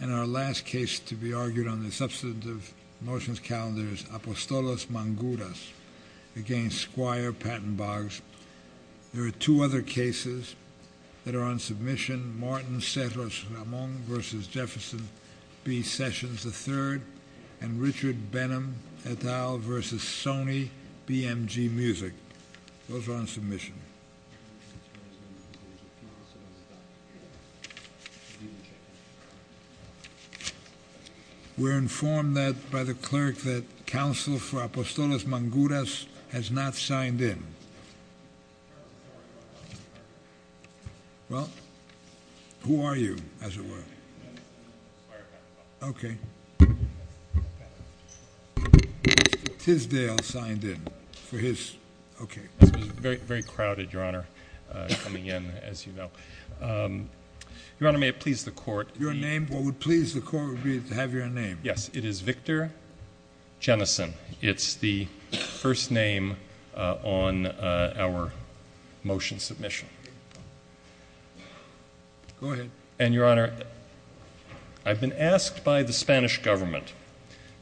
And our last case to be argued on the substantive motions calendar is Apostolos Manguras against Squire Patton Boggs. There are two other cases that are on submission, Martin Cerros Ramon versus Jefferson B. Sessions III and Richard Benham et al. versus Sony BMG Music. Those are on submission. We're informed that by the clerk that counsel for Apostolos Manguras has not signed in. Well, who are you, as it were? Okay. Tisdale signed in for his, okay. This is very crowded, your honor, coming in, as you know. Your honor, may it please the court. Your name, what would please the court would be to have your name. Yes, it is Victor Jennison. It's the first name on our motion submission. Go ahead. And your honor, I've been asked by the Spanish government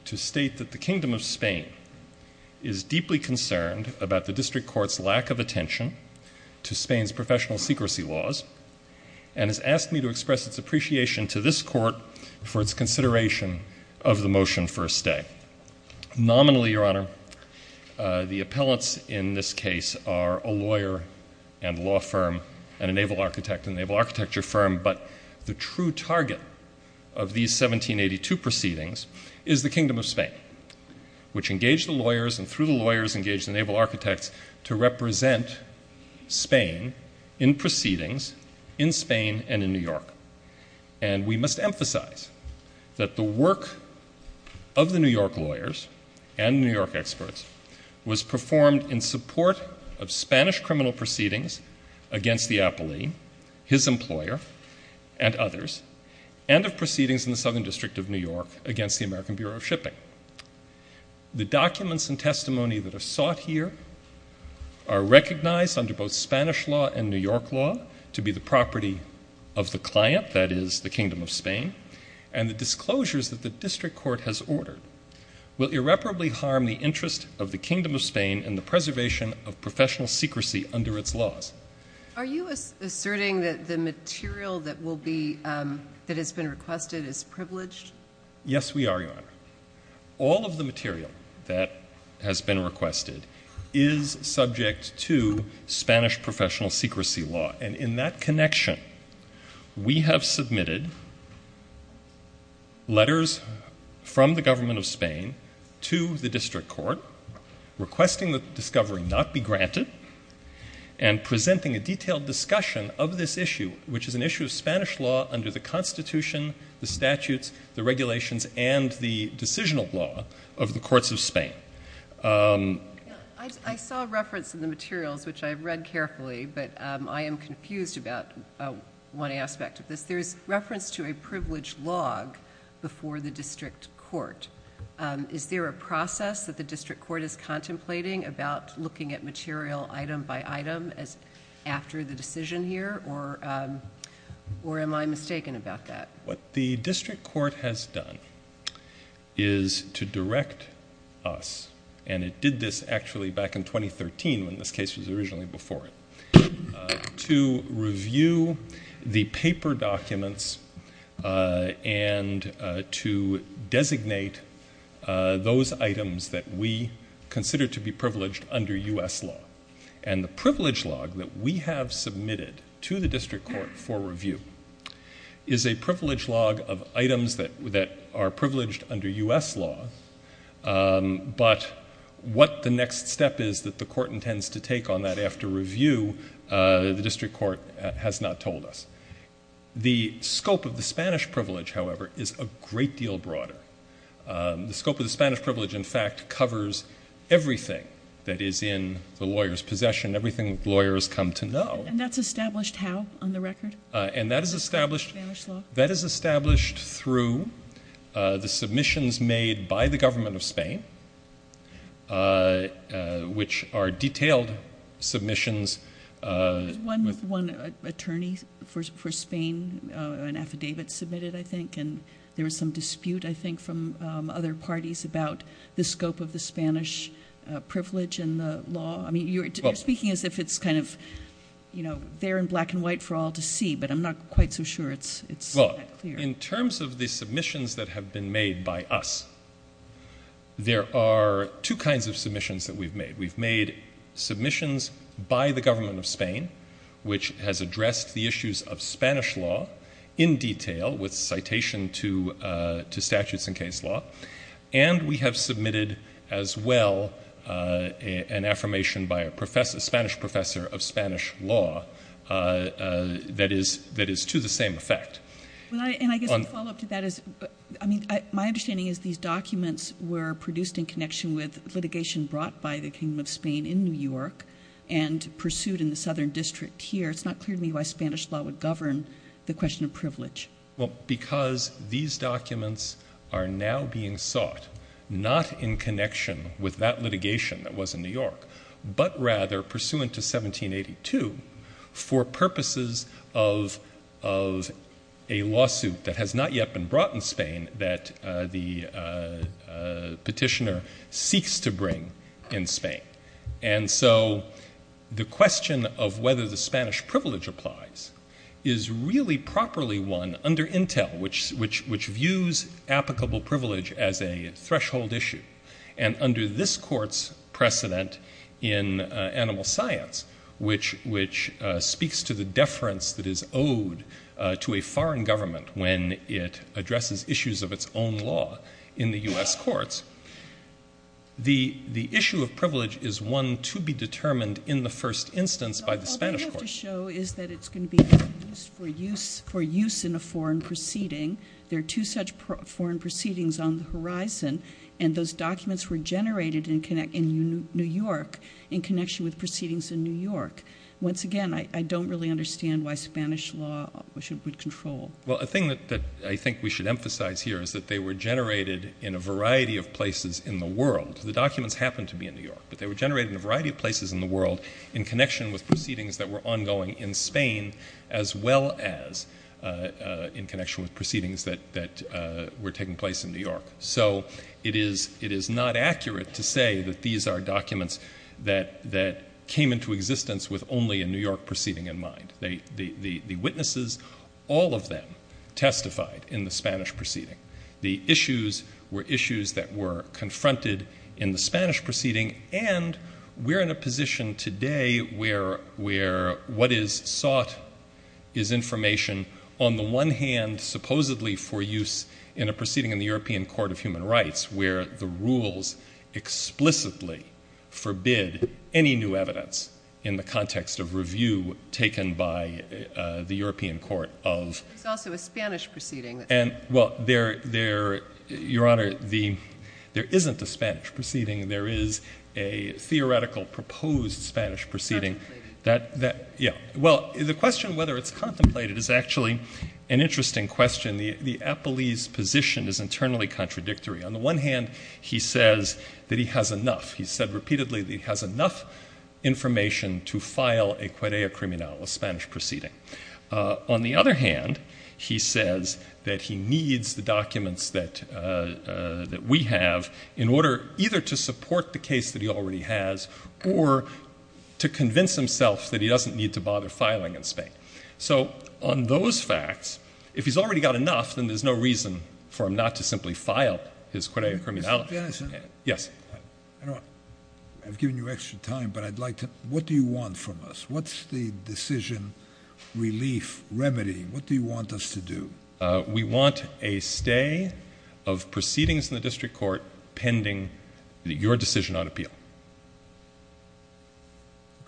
to state that the Kingdom of Spain is deeply concerned about the district court's lack of attention to Spain's professional secrecy laws and has asked me to express its appreciation to this court for its consideration of the motion for a stay. Nominally, your honor, the appellants in this case are a lawyer and law firm and a naval architect and naval architecture firm, but the true target of these 1782 proceedings is the Kingdom of Spain, which engaged the lawyers and through the lawyers engaged the naval architects to represent Spain in proceedings in Spain and in New York. And we must emphasize that the work of the New York lawyers and New York experts was performed in support of Spanish criminal proceedings against the appellee, his employer, and others, and of proceedings in the Southern District of New York against the American Bureau of Shipping. The documents and testimony that are sought here are recognized under both Spanish law and New York law to be the property of the client, that is the Kingdom of Spain, and the disclosures that the district court has ordered will irreparably harm the interest of the Kingdom of Spain and the preservation of professional secrecy under its laws. Are you asserting that the material that will be, that has been requested, is privileged? Yes, we are, your honor. All of the material that has been requested is subject to Spanish professional secrecy law, and in that connection we have submitted letters from the government of Spain to the district court requesting the discovery not be granted and presenting a detailed discussion of this issue, which is an issue of Spanish law under the constitution, the statutes, the regulations, and the decisional law of the courts of Spain. I saw a reference in the materials, which I've read carefully, but I am confused about one aspect of this. There is reference to a privileged log before the district court. Is there a process that the district court is contemplating about looking at material item by item? What the district court has done is to direct us, and it did this actually back in 2013 when this case was originally before it, to review the paper documents and to designate those items that we consider to be privileged under U.S. law, and the privilege log that we submitted to the district court for review is a privilege log of items that are privileged under U.S. law, but what the next step is that the court intends to take on that after review, the district court has not told us. The scope of the Spanish privilege, however, is a great deal broader. The scope of the Spanish privilege, in fact, covers everything that is in the lawyer's know. And that's established how on the record? That is established through the submissions made by the government of Spain, which are detailed submissions. One attorney for Spain, an affidavit submitted, I think, and there was some dispute, I think, from other parties about the scope of there in black and white for all to see, but I'm not quite so sure it's that clear. In terms of the submissions that have been made by us, there are two kinds of submissions that we've made. We've made submissions by the government of Spain, which has addressed the issues of Spanish law in detail with citation to statutes and case law, and we have submitted as well an affirmation by a Spanish professor of Spanish law that is to the same effect. Well, and I guess a follow-up to that is, I mean, my understanding is these documents were produced in connection with litigation brought by the kingdom of Spain in New York and pursued in the southern district here. It's not clear to me why Spanish law would govern the question of privilege. Well, because these documents are now being sought, not in connection with that litigation that was in New York, but rather pursuant to 1782 for purposes of a lawsuit that has not yet been brought in Spain that the petitioner seeks to bring in Spain. And so the question of whether the Spanish privilege applies is really properly one under Intel, which views applicable privilege as a threshold issue. And under this court's precedent in animal science, which speaks to the deference that is owed to a foreign government when it addresses issues of its own law in the U.S. courts, the issue of privilege is one to be determined in the first instance by the Spanish court. All they have to show is that it's going to be used for use in a foreign proceeding. There are two such foreign proceedings on the horizon, and those documents were generated in New York in connection with proceedings in New York. Once again, I don't really understand why Spanish law would control. Well, a thing that I think we should emphasize here is that they were generated in a variety of places in the world. The documents happen to be in New York, but they were generated in a variety of places in the world in connection with proceedings that were ongoing in Spain as well as in connection with proceedings that were taking place in New York. So it is not accurate to say that these are documents that came into existence with only a New York proceeding in mind. The witnesses, all of them, testified in the Spanish proceeding. The issues were issues that were confronted in the Spanish proceeding, and we're in a position today where what is sought is information, on the one hand, supposedly for use in a proceeding in the European Court of Human Rights, where the rules explicitly forbid any new evidence in the context of review taken by the European Court of... It's also a Spanish proceeding. Well, Your Honor, there isn't a Spanish proceeding. There is a theoretical proposed Spanish proceeding. Contemplated. Yeah. Well, the question whether it's contemplated is actually an interesting question. The appellee's position is internally contradictory. On the one hand, he says that he has enough. He said repeatedly that he has enough information to file a cuerea criminal, a Spanish proceeding. On the other hand, he says that he needs the documents that we have in order either to support the case that he already has or to convince himself that he doesn't need to bother filing in Spain. So on those facts, if he's already got enough, then there's no reason for him not to simply file his cuerea criminal. Mr. Janison. Yes. I've given you extra time, but I'd like to... What do you want from us? What's the decision relief, remedy? What do you want us to do? We want a stay of proceedings in the district court pending your decision on appeal.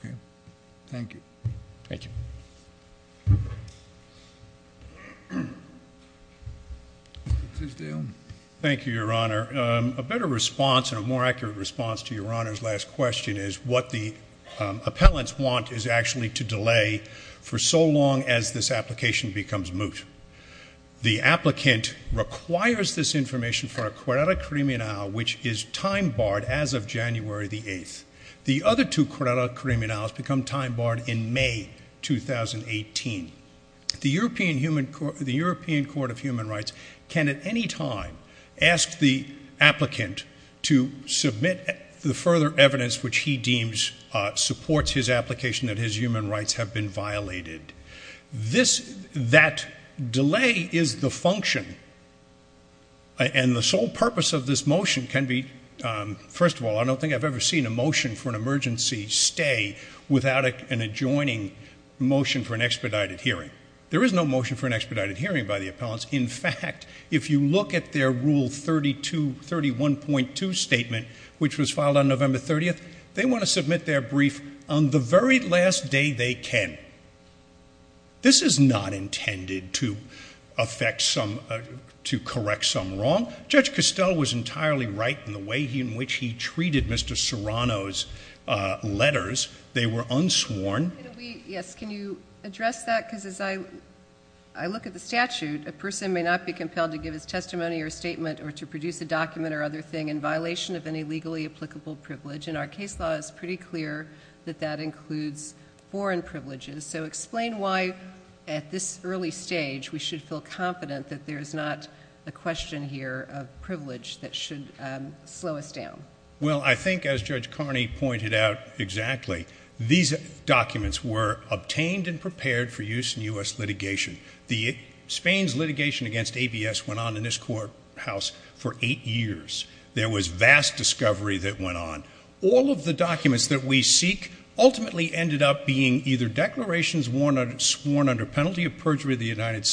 Okay. Thank you. Thank you. Mr. Steele. Thank you, Your Honor. A better response and a more accurate response to Your Honor's last question is what the appellants want is actually to delay for so long as this application becomes moot. The applicant requires this information for a cuerea criminal, which is time barred as of January the 8th. The other two cuerea criminals become time barred in May 2018. The European Court of Human Rights can at any time ask the applicant to submit the further evidence which he deems supports his application that his human rights have been violated. That delay is the function, and the sole purpose of this motion can be... First of all, I don't think I've ever seen a motion for an emergency stay without an adjoining motion for an expedited hearing. There is no motion for an expedited hearing by the appellants. In fact, if you look at their Rule 31.2 statement, which was filed on November 30th, they want to submit their brief on the very last day they can. This is not intended to correct some wrong. Judge Costell was entirely right in the way in which he treated Mr. Serrano's letters. They were unsworn. Can you address that? As I look at the statute, a person may not be compelled to give his testimony or statement or to produce a document or other thing in violation of any legally applicable privilege. Our case law is pretty clear that that includes foreign privileges. Explain why at this early stage we should feel confident that there's not a question here of privilege that should slow us down. I think as Judge Carney pointed out exactly, these documents were obtained and prepared for use in U.S. litigation. Spain's litigation against ABS went on in this courthouse for eight years. There was vast discovery that went on. All of the documents that we seek ultimately ended up being either declarations sworn under penalty of perjury of the United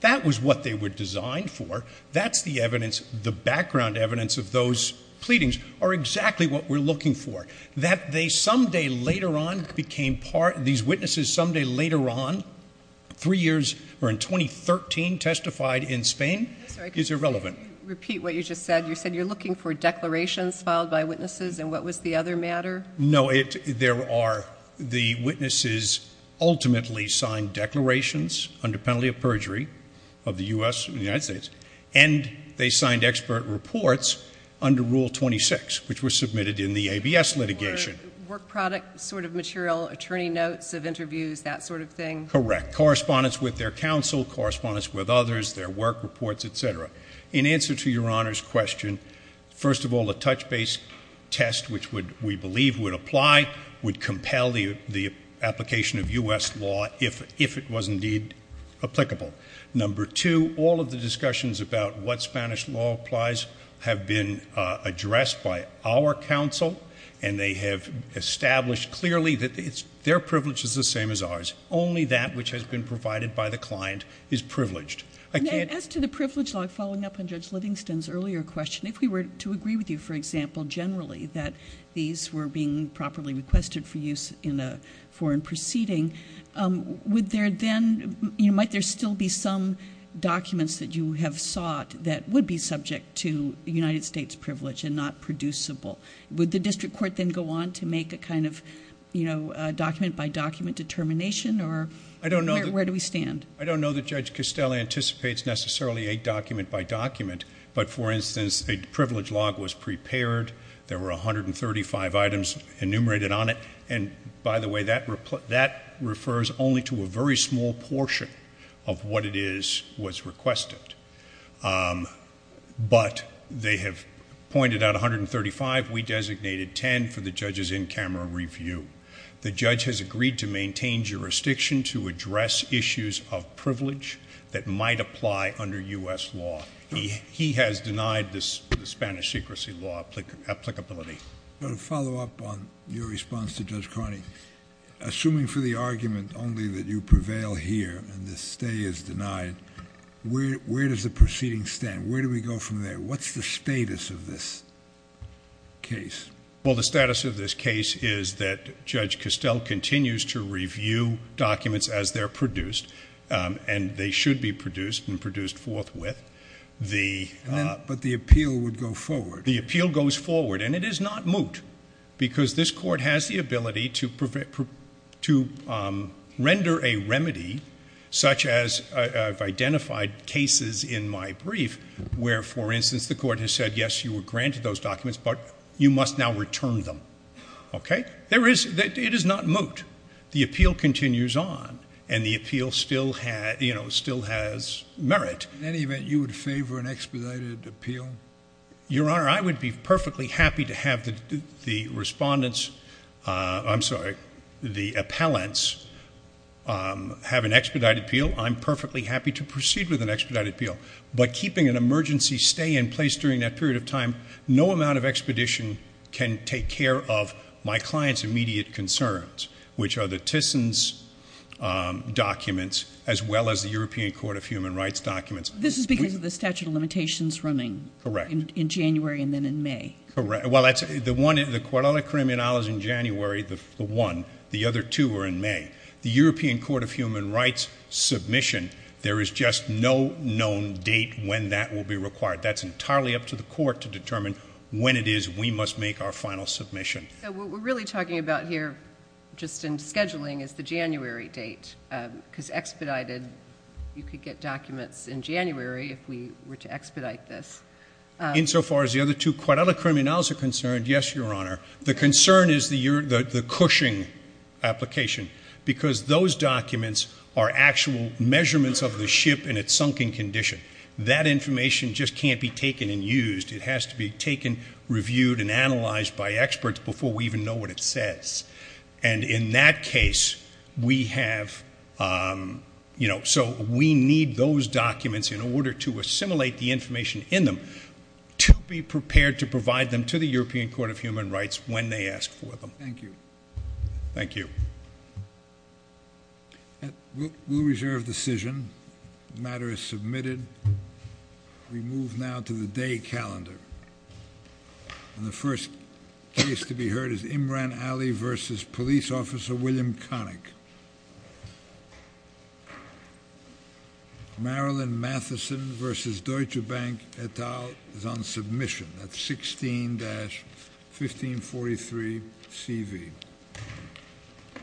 That was what they were designed for. That's the evidence, the background evidence of those pleadings are exactly what we're looking for. That they someday later on became part, these witnesses someday later on, three years or in 2013 testified in Spain is irrelevant. Repeat what you just said. You said you're looking for declarations filed by witnesses and what was the other matter? No, there are. The witnesses ultimately signed declarations under penalty of perjury of the U.S. and the United States and they signed expert reports under Rule 26, which were submitted in the ABS litigation. Work product sort of material, attorney notes of interviews, that sort of thing? Correct. Correspondence with their counsel, correspondence with others, their work reports, etc. In answer to your Honor's question, first of all, the touch base test, which we believe would apply, would compel the application of U.S. law if it was indeed applicable. Number two, all of the discussions about what Spanish law applies have been addressed by our counsel and they have established clearly that their privilege is the same as ours. Only that which has been provided by the client is privileged. As to the privilege law, following up on Judge Livingston's earlier question, if we were to agree with you, for example, generally that these were being properly requested for use in a foreign proceeding, would there then, you know, might there still be some documents that you have sought that would be subject to United States privilege and not producible? Would the district court then go on to make a kind of, you know, document by document determination or where do we stand? I don't know that Judge Costello anticipates necessarily a document by document, but for instance, a privilege log was prepared, there were 135 items enumerated on it, and by the way, that refers only to a very small portion of what it is was requested. But they have pointed out 135, we designated 10 for the judge's in-camera review. The judge has agreed to maintain jurisdiction to address issues of privilege that might apply under U.S. law. He has denied the Spanish secrecy law applicability. But a follow-up on your response to Judge Carney, assuming for the argument only that you prevail here and the stay is denied, where does the proceeding stand? Where do we go from there? What's the status of this case? Well, the status of this case is that Judge Costello continues to review documents as they're produced, and they should be produced and produced forthwith. But the appeal would go forward. The appeal goes forward, and it is not moot, because this Court has the ability to render a remedy such as I've identified cases in my brief where, for instance, the Court has said yes, you were granted those documents, but you must now return them, okay? It is not moot. The appeal continues on, and the appeal still has merit. In any event, you would favor an expedited appeal? Your Honor, I would be perfectly happy to have the respondents—I'm sorry, the appellants—have an expedited appeal. I'm perfectly happy to proceed with an expedited appeal. But keeping an emergency stay in place during that period of time, no amount of expedition can take care of my client's immediate concerns, which are the Tissons documents, as well as the European Court of Human Rights documents. This is because of the statute of limitations running in January and then in May. Correct. Well, the Cuadrale Criminale is in January, the one. The other two are in May. The European Court of Human Rights submission, there is just no known date when that will be required. That's entirely up to the court to determine when it is we must make our final submission. So what we're really talking about here, just in scheduling, is the January date, because expedited, you could get documents in January if we were to expedite this. In so far as the other two Cuadrale Criminales are concerned, yes, Your Honor. The concern is the Cushing application, because those documents are actual measurements of the ship in its sunken condition. That information just can't be taken and used. It has to be taken, reviewed, and analyzed by experts before we even know what it says. And in that case, we have, you know, so we need those documents in order to assimilate the information in them to be prepared to provide them to the European Court of Human Rights when they ask for them. Thank you. Thank you. We'll reserve decision. The matter is submitted. We move now to the day calendar. And the first case to be heard is Imran Ali v. Police Officer William Connick. Marilyn Matheson v. Deutsche Bank et al. is on submission at 16-1543 C.V.